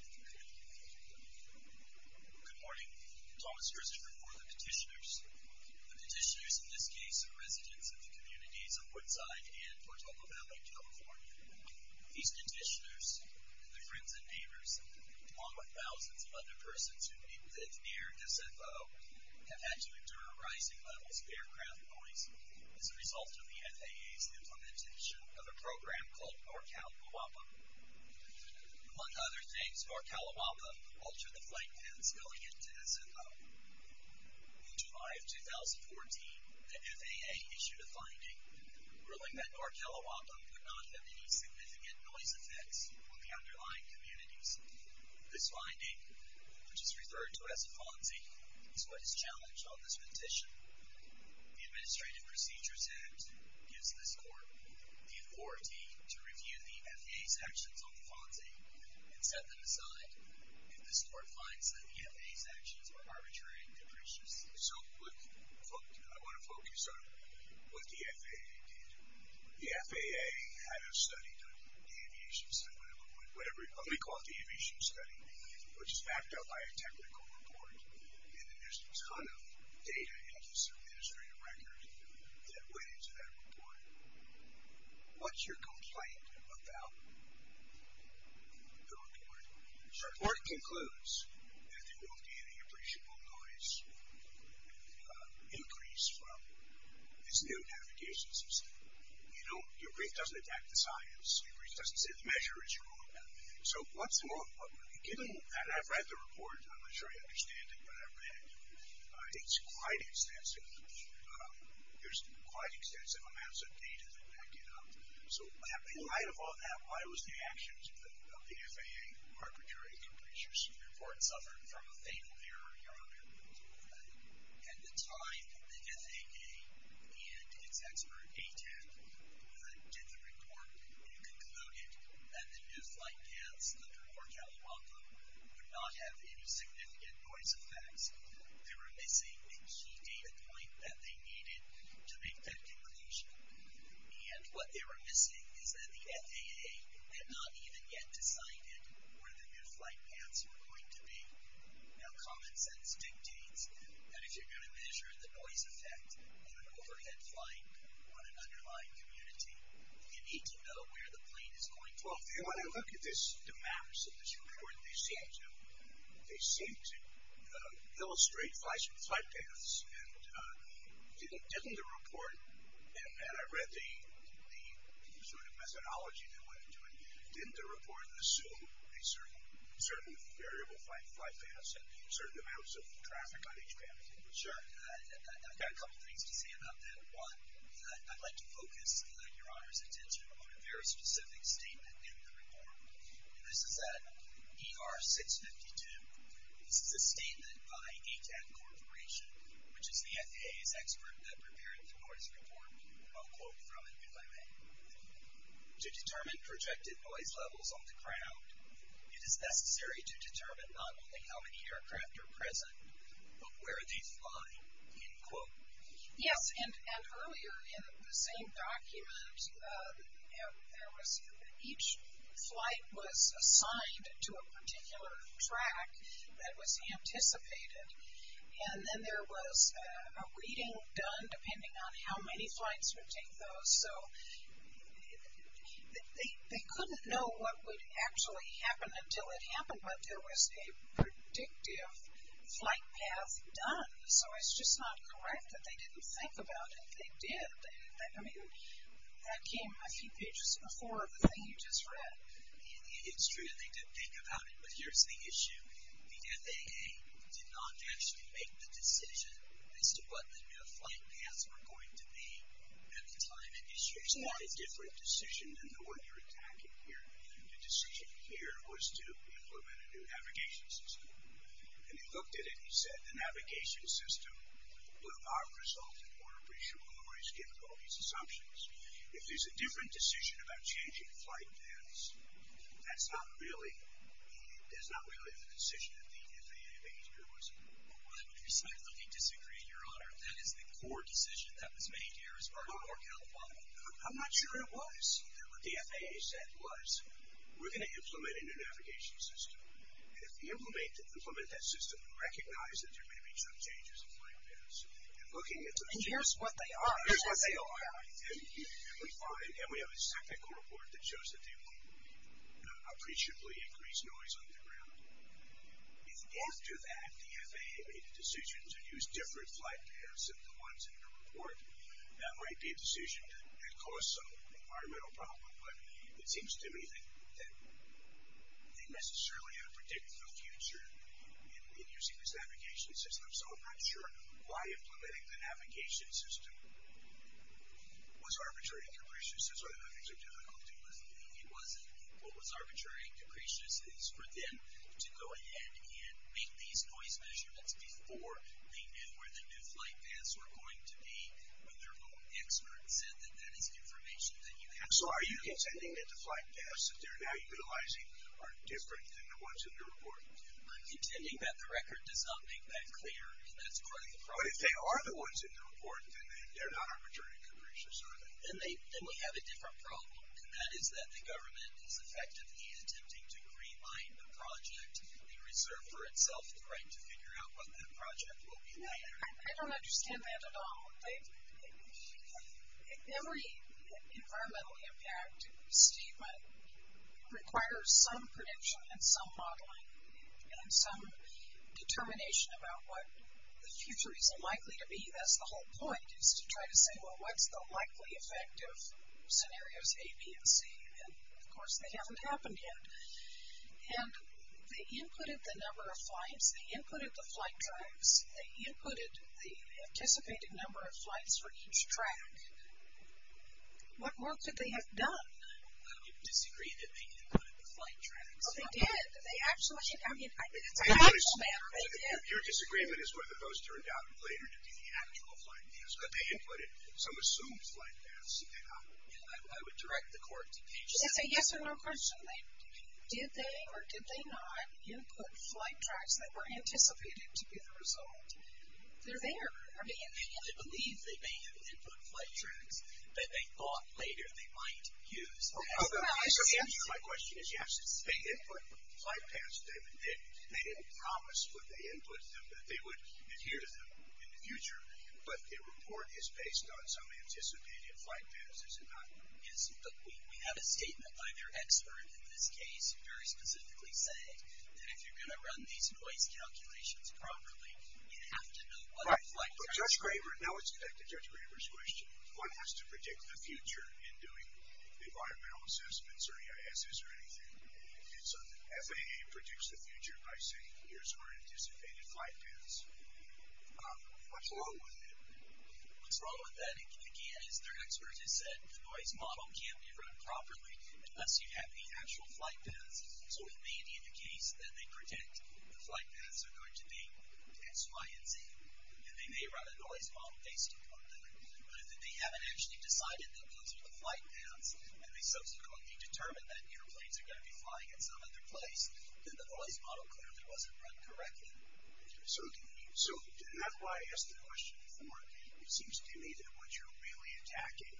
Good morning. Thomas Herzog before the petitioners. The petitioners in this case are residents of the communities of Woodside and Portola Valley, California. These petitioners and their friends and neighbors, along with thousands of other persons who live near SFO, have had to endure rising levels of aircraft noise as a result of the FAA's implementation of a program called NorCal MUAPA. Among other things, NorCal MUAPA altered the flight paths going into SFO. In July of 2014, the FAA issued a finding ruling that NorCal MUAPA could not have any significant noise effects on the underlying communities. This finding, which is referred to as a FONSI, is what is challenged on this petition. The Administrative Procedures Act gives this court the authority to review the FAA's actions on the FONSI and set them aside if this court finds that the FAA's actions are arbitrary and capricious. So, I want to focus on what the FAA did. The FAA had a study done, the aviation study, whatever you call it, the aviation study, which is backed up by a technical report, and then there's a ton of data in this administrative record that went into that report. What's your complaint about the report? So, the report concludes that there won't be any appreciable noise increase from this new navigation system. You know, your brief doesn't attack the science. Your brief doesn't say the measure is wrong. So, once more, given that I've read the report, I'm not sure I understand it, but I've read it, it's quite extensive. There's quite extensive amounts of data that back it up. So, in light of all that, why was the actions of the FAA arbitrary and capricious? The report suffered from a fatal error, Your Honor. At the time, the FAA and its expert, ATEM, did the report and concluded that the new flight paths under Port Alabama would not have any significant noise effects. They were missing a key data point that they needed to make that conclusion. And what they were missing is that the FAA had not even yet decided where the new flight paths were going to be. Now, common sense dictates that if you're going to measure the noise effect of an overhead flight on an underlying community, you need to know where the plane is going to land. And when I look at this, the maps of this report, they seem to illustrate flight paths. And didn't the report, and I read the sort of methodology that went into it, didn't the report assume a certain variable flight path and certain amounts of traffic on each path? Sure. I've got a couple things to say about that. Number one, I'd like to focus, Your Honor's attention, on a very specific statement in the report. And this is at ER 652. This is a statement by ACAT Corporation, which is the FAA's expert that prepared the court's report. And I'll quote from it, if I may. To determine projected noise levels on the ground, it is necessary to determine not only how many aircraft are present, but where they fly. End quote. Yes, and earlier in the same document, each flight was assigned to a particular track that was anticipated. And then there was a reading done depending on how many flights would take those. So they couldn't know what would actually happen until it happened, but there was a predictive flight path done. So it's just not correct that they didn't think about it. They did. I mean, that came a few pages before the thing you just read. It's true. They did think about it. But here's the issue. The FAA did not actually make the decision as to what the new flight paths were going to be at the time. It issued a different decision than the one you're attacking here. The decision here was to implement a new navigation system. And they looked at it and said the navigation system would not result in more appreciable or less difficult. These assumptions. If there's a different decision about changing flight paths, that's not really the decision that the FAA made here, was it? I would precisely disagree, Your Honor. That is the core decision that was made here as part of our calcifying. I'm not sure it was. What the FAA said was, we're going to implement a new navigation system. And if we implement that system and recognize that there may be some changes in flight paths and looking at some changes. And here's what they are. Here's what they are. And we have a technical report that shows that they won't appreciably increase noise on the ground. If after that the FAA made a decision to use different flight paths than the ones in the report, that might be a decision that caused some environmental problem. But it seems to me that they necessarily are predicting the future in using this navigation system. So I'm not sure why implementing the navigation system was arbitrary and capricious. That's one of the things they're difficult to do. It wasn't. What was arbitrary and capricious is for them to go ahead and make these noise measurements before they knew where the new flight paths were going to be when their own experts said that that is information that you have. So are you intending that the flight paths that they're now utilizing are different than the ones in the report? I'm intending that the record does not make that clear. That's part of the problem. But if they are the ones in the report, then they're not arbitrary and capricious, are they? Then we have a different problem. And that is that the government is effectively attempting to green-line the project and reserve for itself the right to figure out what that project will be later. I don't understand that at all. Every environmental impact statement requires some prediction and some modeling and some determination about what the future is likely to be. That's the whole point is to try to say, well, what's the likely effect of scenarios A, B, and C? And, of course, they haven't happened yet. And they inputted the number of flights. They inputted the flight times. They inputted the anticipated number of flights for each track. What more could they have done? Well, you disagree that they inputted the flight tracks. Well, they did. They actually, I mean, it's an actual matter. They did. Your disagreement is whether those turned out later to be the actual flight paths. But they inputted some assumed flight paths. Okay. I would direct the court to change that. Yes or no question. Did they or did they not input flight tracks that were anticipated to be the result? They're there. I mean, I believe they may have input flight tracks that they thought later they might use. My question is yes. They input flight paths. They didn't promise when they input them that they would adhere to them in the future. But the report is based on some anticipated flight paths, is it not? We have a statement by their expert in this case, very specifically saying that if you're going to run these noise calculations properly, you have to know what the flight tracks are. But Judge Graber, now let's get back to Judge Graber's question. One has to predict the future in doing environmental assessments or EISs or anything. And so the FAA predicts the future by saying here's our anticipated flight paths. What's wrong with it? What's wrong with that, again, is their expert has said the noise model can't be run properly unless you have the actual flight paths. So it may be the case that they predict the flight paths are going to be X, Y, and Z. And they may run a noise model based upon that. But if they haven't actually decided that those are the flight paths and they subsequently determine that airplanes are going to be flying in some other place, then the noise model clearly wasn't run correctly. So that's why I asked the question before. It seems to me that what you're really attacking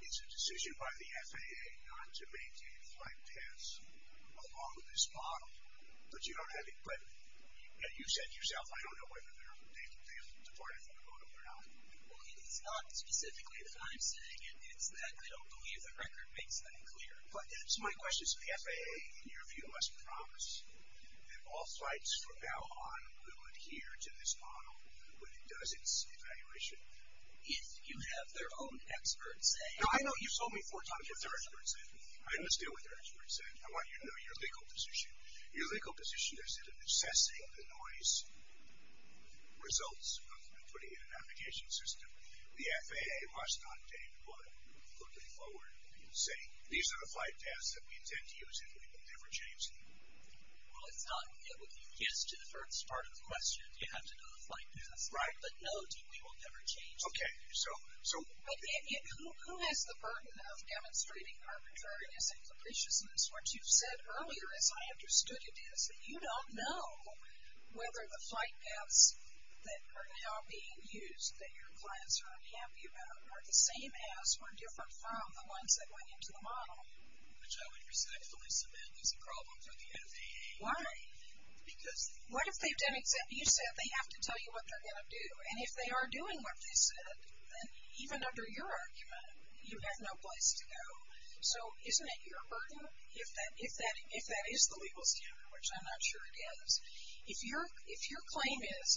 is a decision by the FAA not to maintain the flight paths along this model. But you don't have it. But you said yourself I don't know whether they've departed from CODA or not. Well, it's not specifically that I'm saying it. It's that I don't believe the record makes that clear. But that's my question. Does the FAA, in your view, must promise that all flights from now on will adhere to this model when it does its evaluation? If you have their own experts saying... No, I know you've told me four times what their experts said. Let's deal with their experts. I want you to know your legal position. Your legal position is that in assessing the noise results of putting in a navigation system, the FAA must not take what you're putting forward and say, these are the flight paths that we intend to use and we will never change them. Well, it's not. It would be a yes to the first part of the question if you had to know the flight paths. Right. But no, we will never change them. Okay. So... Who has the burden of demonstrating arbitrariness and capriciousness? What you've said earlier, as I understood it, is that you don't know whether the flight paths that are now being used, that your clients are unhappy about, are the same as or different from the ones that went into the model. Which I would respectfully submit is a problem for the FAA. Why? Because... What if they've done exactly... You said they have to tell you what they're going to do. And if they are doing what they said, then even under your argument, you have no place to go. So isn't it your burden if that is the legal standard, which I'm not sure it is. If your claim is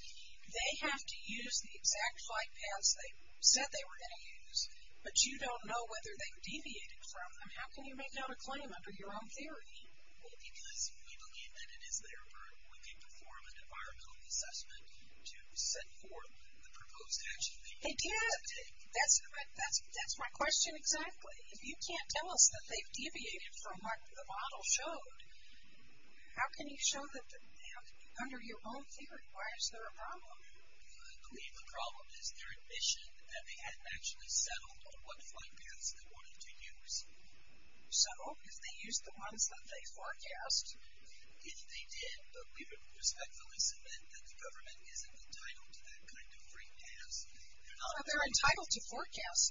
they have to use the exact flight paths they said they were going to use, but you don't know whether they've deviated from them, how can you make out a claim under your own theory? Well, because we believe that it is their burden. We can perform an environmental assessment to set forth the proposed action. It did. That's my question exactly. If you can't tell us that they've deviated from what the model showed, how can you show that under your own theory? Why is there a problem? I believe the problem is their admission that they hadn't actually settled on what flight paths they wanted to use. So if they used the ones that they forecast... If they did, but we would respectfully submit that the government isn't entitled to that kind of free pass. They're entitled to forecast.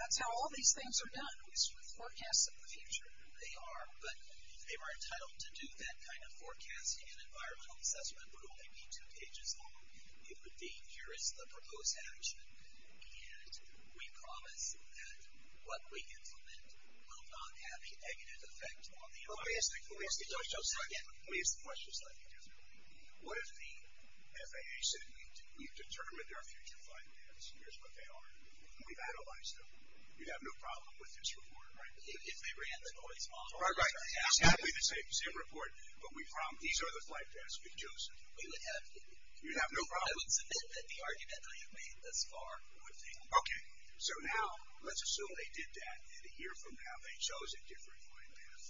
That's how all these things are done, is with forecasts of the future. They are, but if they were entitled to do that kind of forecasting and environmental assessment, it would only be two pages long. It would be, here is the proposed action, and we promise that what we implement will not have a negative effect on the environment. Let me ask the question slightly differently. What if the FAA said we've determined their future flight paths, here's what they are, and we've analyzed them, we'd have no problem with this report, right? If they ran the noise model... Right, right. It's going to be the same report, but we promise these are the flight paths we've chosen. We would have to. You'd have no problem. I would submit that the argument I have made thus far would fail. Okay. So now, let's assume they did that, and a year from now they chose a different flight path.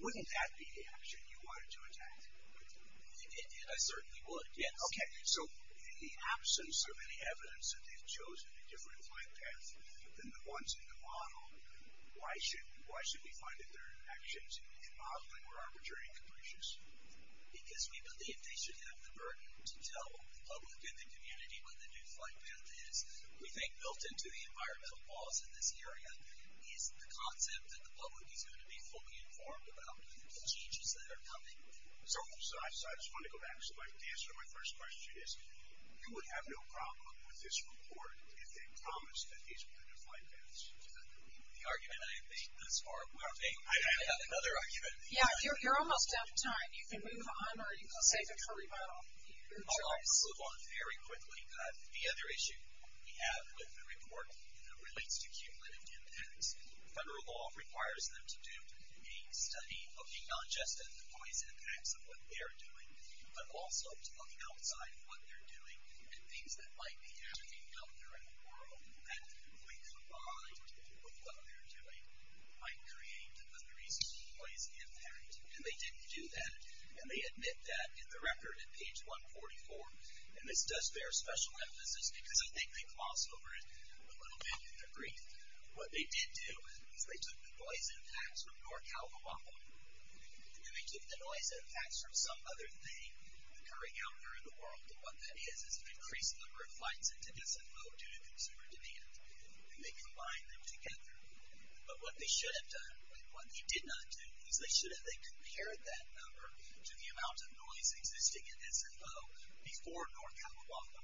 Wouldn't that be the action you wanted to attack? I certainly would, yes. Okay, so in the absence of any evidence that they've chosen a different flight path than the ones in the model, why should we find that their actions in modeling were arbitrary and capricious? Because we believe they should have the burden to tell the public and the community what the new flight path is. We think built into the environmental laws in this area is the concept that the public is going to be fully informed about the changes that are coming. So I just want to go back to my answer to my first question, which is you would have no problem with this report if they promised that these were the new flight paths. The argument I have made thus far would fail. I have another argument. Yeah, you're almost out of time. You can move on, or you can save it for rebuttal. I'll move on very quickly. The other issue we have with the report relates to cumulative impacts. Federal law requires them to do a study looking not just at the noise impacts of what they're doing, but also to look outside of what they're doing and things that might be happening out there in the world that, when combined with what they're doing, might create the greatest noise impact. And they didn't do that. And they admit that in the record at page 144, and this does bear special emphasis because I think they gloss over it a little bit in their brief. What they did do is they took the noise impacts from North California and they took the noise impacts from some other thing occurring out there in the world, and what that is is an increased number of flights into SNO due to consumer demand, and they combined them together. But what they should have done, what they did not do, is they should have then compared that number to the amount of noise existing in SNO before North California.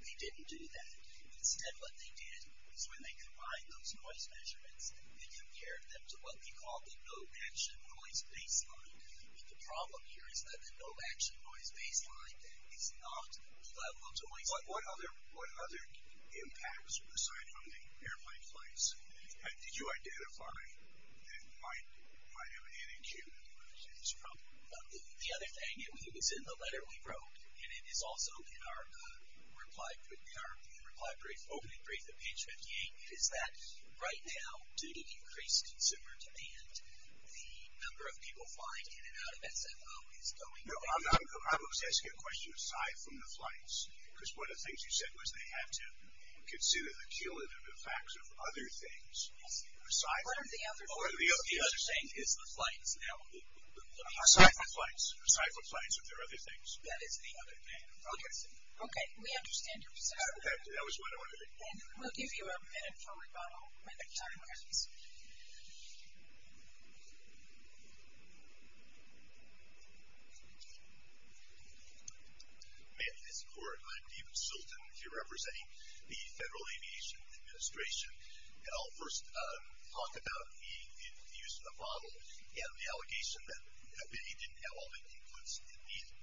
They didn't do that. Instead, what they did is when they combined those noise measurements, they compared them to what we call the no action noise baseline. And the problem here is that the no action noise baseline is not the level of noise. But what other impacts, aside from the airplane flights, did you identify that might have an issue with this problem? The other thing, it was in the letter we wrote, and it is also in our reply brief, opening brief at page 58, is that right now, due to increased consumer demand, the number of people flying in and out of SNO is going down. No, I was asking a question aside from the flights, because one of the things you said was they had to consider the cumulative effects of other things. What are the other things? The other thing is the flights. Aside from flights, aside from flights, are there other things? That is the other thing. Okay, we understand your position. That was what I wanted to make clear. We'll give you a minute for rebuttal when the time is up. May I ask for it? I'm David Sultan. I'm representing the Federal Aviation Administration. And I'll first talk about the use of the model and the allegation that they didn't have all the inputs they needed.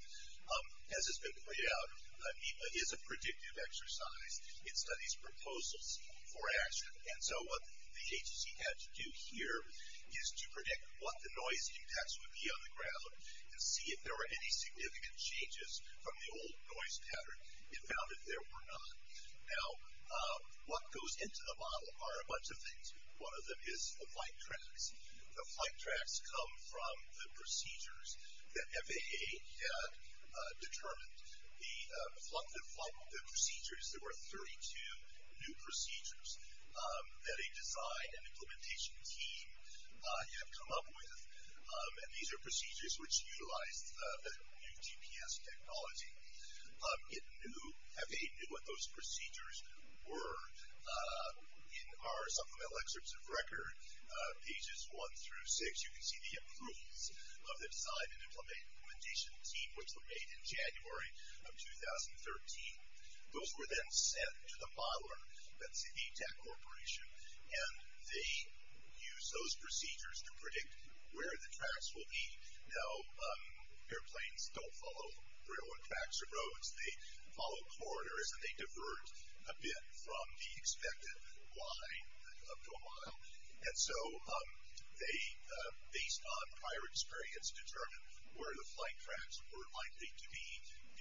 As has been pointed out, NEPA is a predictive exercise. It studies proposals for action. And so what the agency had to do here is to predict what the noise impacts would be on the ground and see if there were any significant changes from the old noise pattern. It found that there were not. Now, what goes into the model are a bunch of things. One of them is the flight tracks. The flight tracks come from the procedures that FAA had determined. The procedures, there were 32 new procedures that a design and implementation team had come up with. And these are procedures which utilized the new GPS technology. It knew, FAA knew what those procedures were. In our supplemental excerpts of record, pages one through six, you can see the approvals of the design and implementation team, which were made in January of 2013. Those were then sent to the modeler, that's the ATAC Corporation, and they used those procedures to predict where the tracks will be. Now, airplanes don't follow railroad tracks or roads. They follow corridors and they divert a bit from the expected line up to a model. And so they, based on prior experience, determined where the flight tracks were likely to be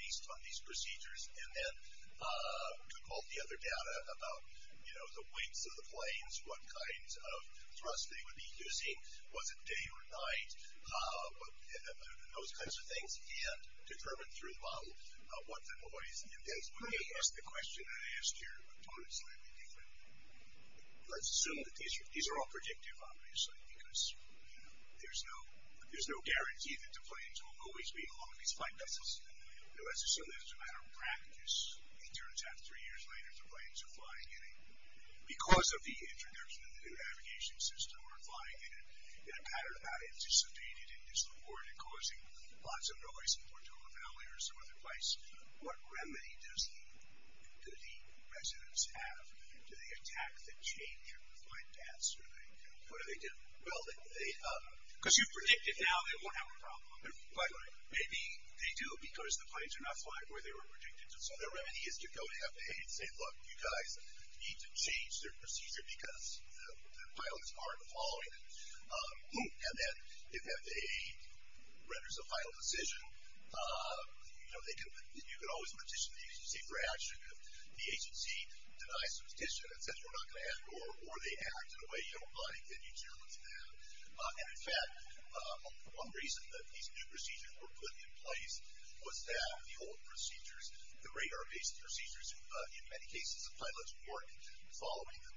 based on these procedures and then took all the other data about, you know, the weights of the planes, what kinds of thrust they would be using, was it day or night, those kinds of things, and determined through the model what the noise in those planes would be. That's the question I asked here. Let's assume that these are all predictive, obviously, because there's no guarantee that the planes will always be along these flight paths. Let's assume that as a matter of practice, it turns out three years later, the planes are flying in a, because of the introduction of the new navigation system, the planes are flying in a pattern that I anticipated in this report and causing lots of noise in Portola Valley or some other place. What remedy does the residents have? Do they attack the change in the flight paths? What do they do? Well, they, because you predict it now, they won't have a problem. But maybe they do because the planes are not flying where they were predicted to. So the remedy is to go to FAA and say, look, you guys need to change their procedure because the pilots aren't following it. And then if FAA renders a final decision, you know, you can always petition the agency for action. If the agency denies the petition and says we're not going to add more, or they act in a way you don't like, then you challenge them. And, in fact, one reason that these new procedures were put in place was that the old procedures, the radar-based procedures, in many cases the pilots weren't following them.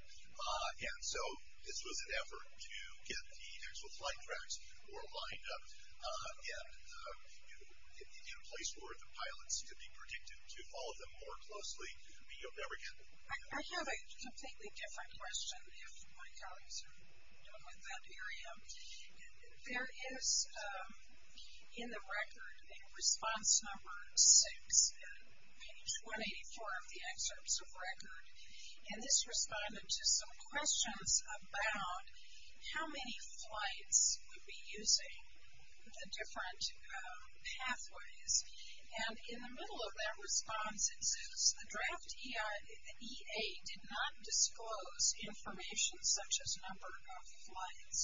And so this was an effort to get the actual flight tracks more lined up and in a place where the pilots could be predicted to follow them more closely, but you'll never get there. I have a completely different question if my colleagues are dealing with that area. There is, in the record, in response number six, page 184 of the excerpts of record, and this responded to some questions about how many flights would be using the different pathways. And in the middle of that response, it says, the draft EA did not disclose information such as number of flights.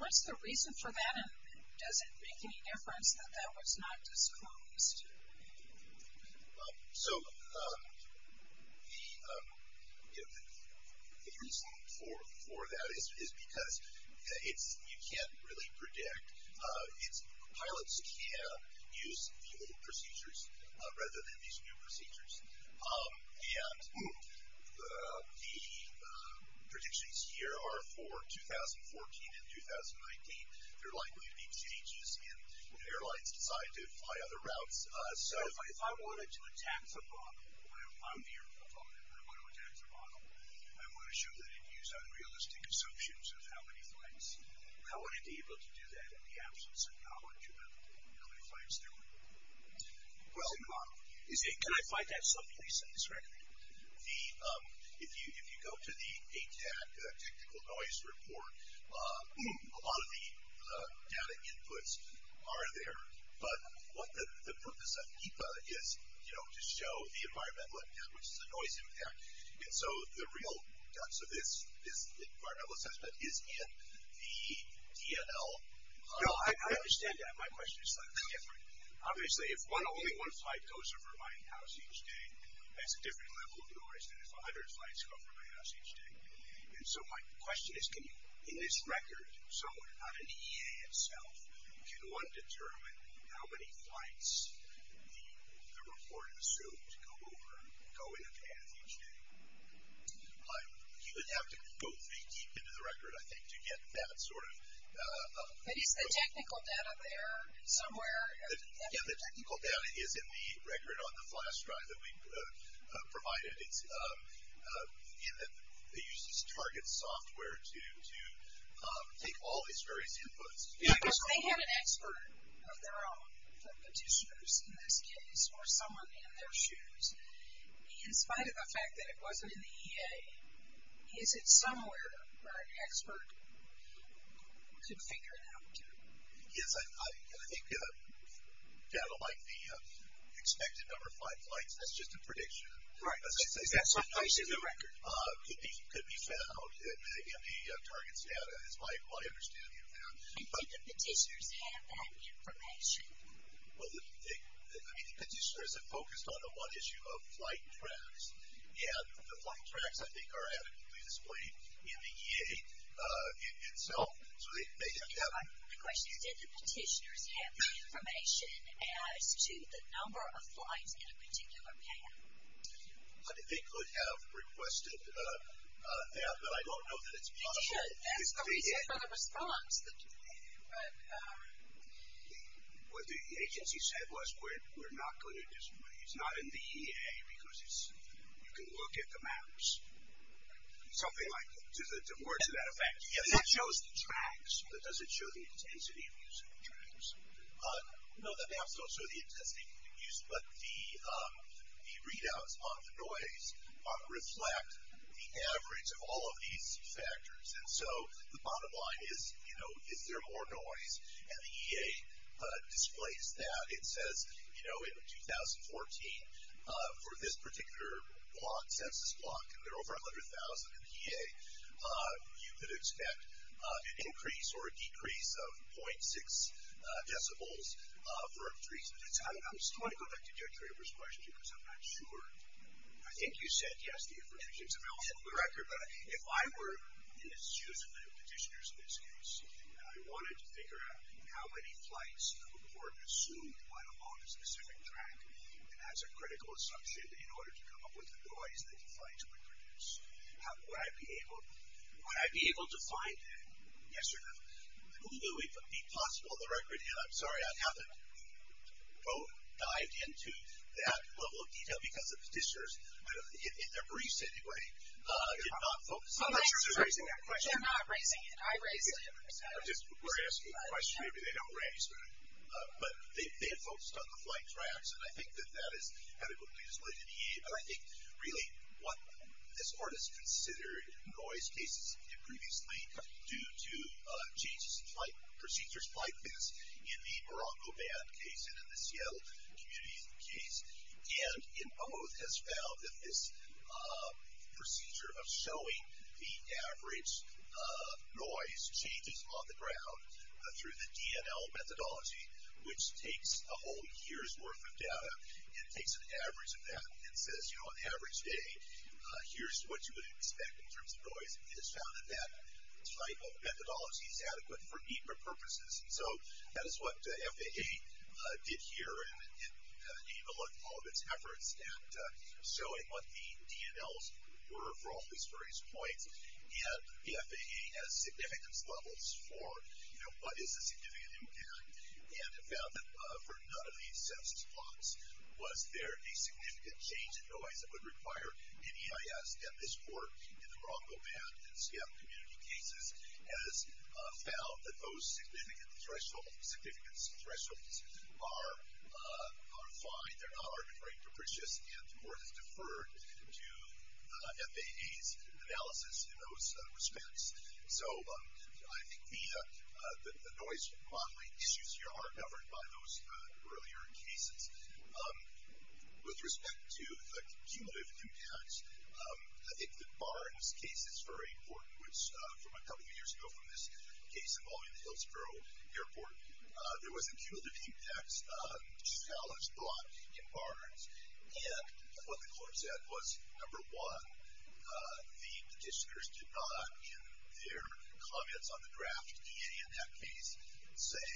What's the reason for that, and does it make any difference that that was not disclosed? So the reason for that is because you can't really predict. Pilots can use the old procedures rather than these new procedures. And the predictions here are for 2014 and 2019. They're likely to be changes in when airlines decide to fly other routes. So if I wanted to attack the model, I'm the airplane pilot, and I want to attack the model, I want to show that it used unrealistic assumptions of how many flights. How would it be able to do that in the absence of knowledge about how many flights there were? Can I find that someplace in this record? If you go to the ATAC technical noise report, a lot of the data inputs are there, but what the purpose of HIPAA is, you know, to show the environmental impact, which is the noise impact. And so the real guts of this environmental assessment is in the DNL. No, I understand that. My question is slightly different. Obviously, if only one flight goes over my house each day, that's a different level of noise than if 100 flights go over my house each day. And so my question is, can you, in this record, so on an EA itself, can one determine how many flights the report assumes go in a path each day? You would have to go very deep into the record, I think, to get that sort of. But is the technical data there somewhere? Yeah, the technical data is in the record on the flash drive that we provided. It uses target software to take all these various inputs. Yeah, but they have an expert of their own, the petitioners in this case or someone in their shoes. In spite of the fact that it wasn't in the EA, is it somewhere that an expert could figure it out? Yes, I think data like the expected number of flights, that's just a prediction. Right. Is that sufficient in the record? Could be found in the target's data, is my understanding of that. But do the petitioners have that information? Well, I mean, the petitioners have focused on the one issue of flight tracks. Yeah, the flight tracks, I think, are adequately displayed in the EA itself. The question is, did the petitioners have the information as to the number of flights in a particular path? They could have requested that, but I don't know that it's possible. They should. That's the reason for the response. What the agency said was we're not going to display it. It's not in the EA because you can look at the maps. Something like that. To that effect. It shows the tracks, but does it show the intensity of using the tracks? No, the maps don't show the intensity of use, but the readouts on the noise reflect the average of all of these factors. And so the bottom line is, you know, is there more noise? And the EA displays that. It says, you know, in 2014, for this particular block, census block, there are over 100,000 in the EA. You could expect an increase or a decrease of 0.6 decibels for entries. I just want to go back to Deirdre's question because I'm not sure. I think you said yes, the information. I mean, I'll hit the record, but if I were in the shoes of the petitioners in this case and I wanted to figure out how many flights were consumed along a specific track, that's a critical assumption in order to come up with the noise that the flights would produce. Would I be able to find that? Yes or no? Would it be possible to record it? I'm sorry, I haven't dived into that level of detail because the petitioners, in their briefs anyway, did not focus on raising that question. They're not raising it. I raised it. We're asking the question, maybe they don't raise it. But they have focused on the flight tracks, and I think that that is adequately displayed in the EA. But I think really what this court has considered noise cases previously due to changes in flight, procedures, flight plans in the Morocco band case and in the Seattle community case, and in both has found that this procedure of showing the average noise changes on the ground through the DNL methodology, which takes a whole year's worth of data, and takes an average of that and says, you know, on average day, here's what you would expect in terms of noise, and has found that that type of methodology is adequate for NEPA purposes. And so that is what FAA did here in the name of all of its efforts at showing what the DNLs were for all these various points, and the FAA has significance levels for, you know, what is a significant impact, and have found that for none of these census plots was there a significant change in noise that would require an EIS, and this court in the Morocco band and Seattle community cases has found that those significant thresholds are fine. They're not arguably capricious, and the court has deferred to FAA's analysis in those respects. So I think the noise modeling issues here are governed by those earlier cases. With respect to cumulative impacts, I think the Barnes case is very important, which from a couple of years ago from this case involving the Hillsborough Airport, there was a cumulative impacts challenge brought in Barnes, and what the court said was, number one, the petitioners did not, in their comments on the draft DA in that case, say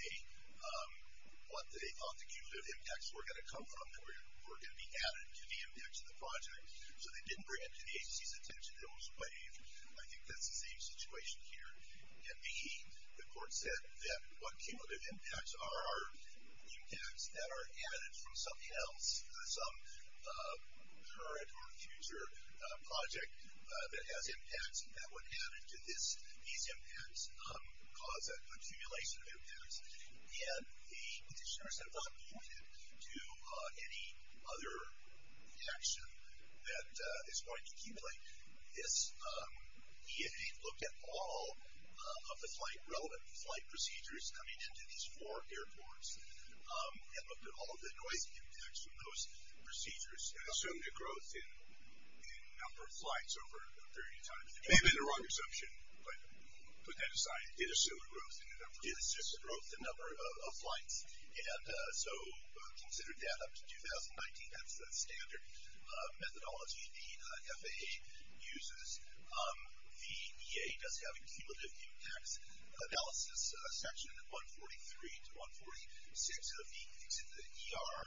what they thought the cumulative impacts were going to come from that were going to be added to the impacts of the project. So they didn't bring it to the agency's attention. I think that's the same situation here. And B, the court said that what cumulative impacts are, are impacts that are added from something else, some current or future project that has impacts, that would add to these impacts, cause an accumulation of impacts, and the petitioners have not alluded to any other action that is going to accumulate. This DA looked at all of the flight, relevant flight procedures coming into these four airports, and looked at all of the noise impacts from those procedures. Assumed a growth in number of flights over a period of time. They made a wrong assumption, but put that aside. Did assume a growth in the number of flights. Did assume a growth in number of flights, and so considered that up to 2019. That's the standard methodology. The FAA uses, the EA does have a cumulative impacts analysis section, 143 to 146 of the ER,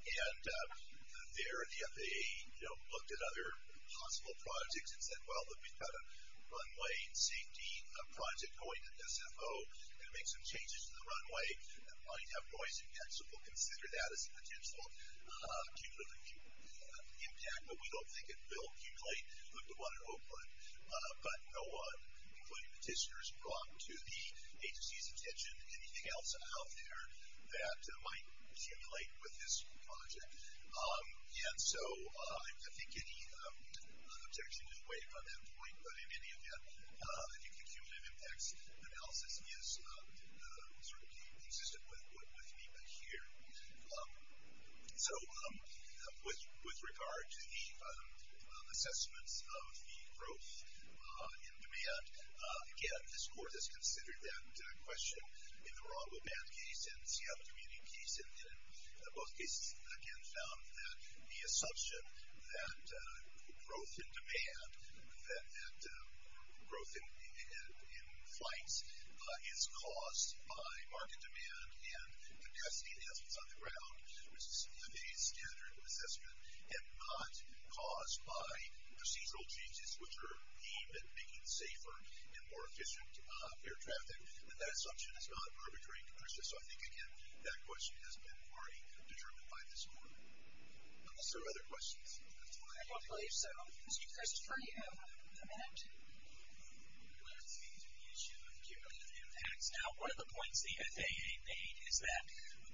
and there the FAA looked at other possible projects and said, well, we've got a runway safety project going to SFO, going to make some changes to the runway, that might have noise impacts, so we'll consider that as a potential cumulative impact. But we don't think it will accumulate like the one in Oakland. But no one, including petitioners, brought to the agency's attention anything else out there that might accumulate with this project. And so I think any objection is waived on that point, but in any event, I think the cumulative impacts analysis is sort of consistent with NEPA here. So, with regard to the assessments of the growth in demand, again, this court has considered that question in the Ronwell Band case and Seattle Community case, and in both cases, again, found that the assumption that growth in demand, that growth in flights is caused by market demand and capacity enhancements on the ground, which is the NEPA's standard of assessment, and not caused by procedural changes, which are aimed at making safer and more efficient air traffic, that assumption is not arbitrary, so I think, again, that question has been already determined by this court. Unless there are other questions. I don't believe so. Mr. Christy, do you have a comment? I would like to speak to the issue of cumulative impacts. Now, one of the points the FAA made is that,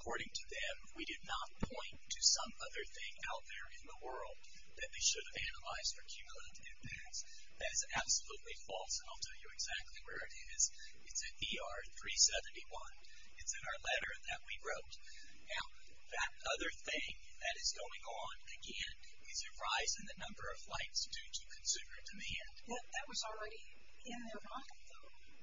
according to them, we did not point to some other thing out there in the world that they should have analyzed for cumulative impacts. That is absolutely false, and I'll tell you exactly where it is. It's at ER 371. It's in our letter that we wrote. Now, that other thing that is going on, again, is a rise in the number of flights due to consumer demand. That was already in their document.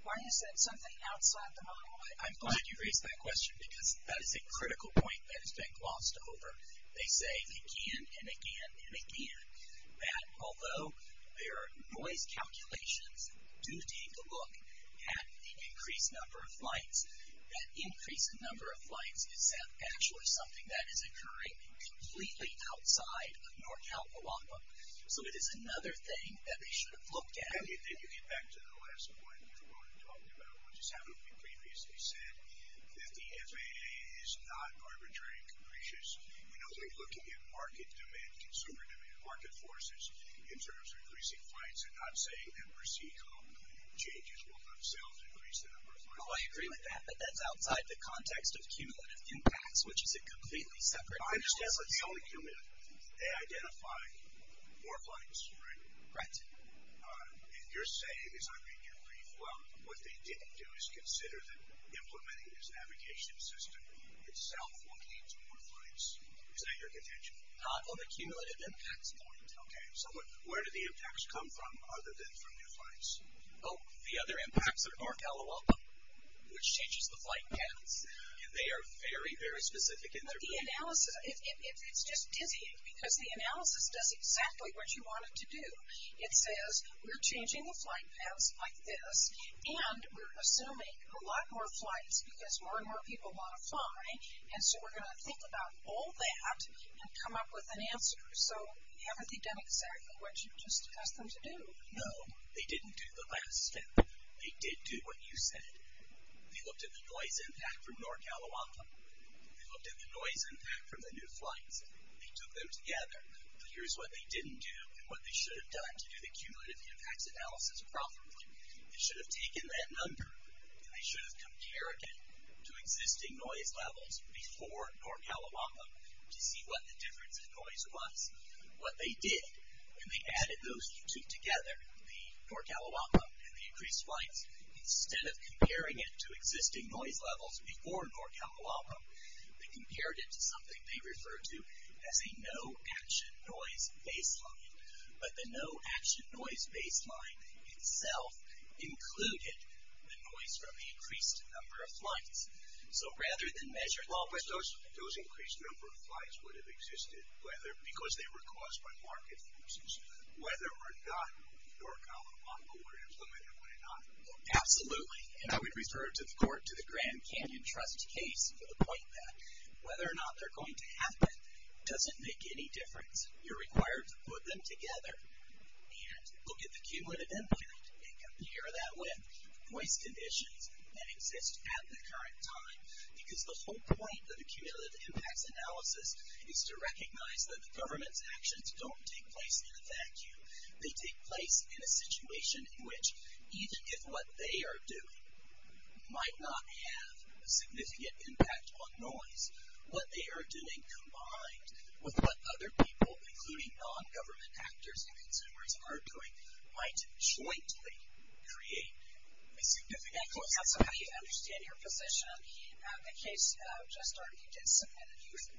Why is that something outside the model? I'm glad you raised that question because that is a critical point that has been glossed over. They say again and again and again that although their noise calculations do take a look at the increased number of flights, that increase in number of flights is actually something that is occurring completely outside of North Carolina. So it is another thing that they should have looked at. Then you get back to the last point you were talking about, which is having previously said that the FAA is not arbitrary and capricious in only looking at market demand, consumer demand, market forces, in terms of increasing flights and not saying that per se common changes will themselves increase the number of flights. Oh, I agree with that, but that's outside the context of cumulative impacts, which is a completely separate issue. I understand, but the only cumulative, they identify more flights, right? Right. And you're saying, as I read your brief, well, what they didn't do is consider that implementing this navigation system itself will lead to more flights. Is that your contention? Not on the cumulative impacts point. Okay, so where do the impacts come from other than from the flights? Oh, the other impacts are North Ellawalpa, which changes the flight paths, and they are very, very specific in their brief. But the analysis, it's just dizzying because the analysis does exactly what you want it to do. It says we're changing the flight paths like this and we're assuming a lot more flights because more and more people want to fly, and so we're going to think about all that and come up with an answer. So haven't they done exactly what you just asked them to do? No, they didn't do the last step. They did do what you said. They looked at the noise impact from North Ellawalpa. They looked at the noise impact from the new flights. They took them together. Here's what they didn't do and what they should have done to do the cumulative impacts analysis properly. They should have taken that number and they should have compared it to existing noise levels before North Ellawalpa to see what the difference in noise was. What they did when they added those two together, the North Ellawalpa and the increased flights, instead of comparing it to existing noise levels before North Ellawalpa, they compared it to something they refer to as a no-action noise baseline, but the no-action noise baseline itself included the noise from the increased number of flights. So rather than measure... But those increased number of flights would have existed because they were caused by market forces. Whether or not North Ellawalpa were implemented would have not... Absolutely, and I would refer to the Grand Canyon Trust case for the point that whether or not they're going to happen doesn't make any difference. You're required to put them together and look at the cumulative impact and compare that with noise conditions that exist at the current time because the whole point of the cumulative impacts analysis is to recognize that the government's actions don't take place in a vacuum. They take place in a situation in which, even if what they are doing might not have a significant impact on noise, what they are doing combined with what other people, including non-government actors and consumers, are doing might jointly create a significant... So how do you understand your position? The case just started, you did submit it.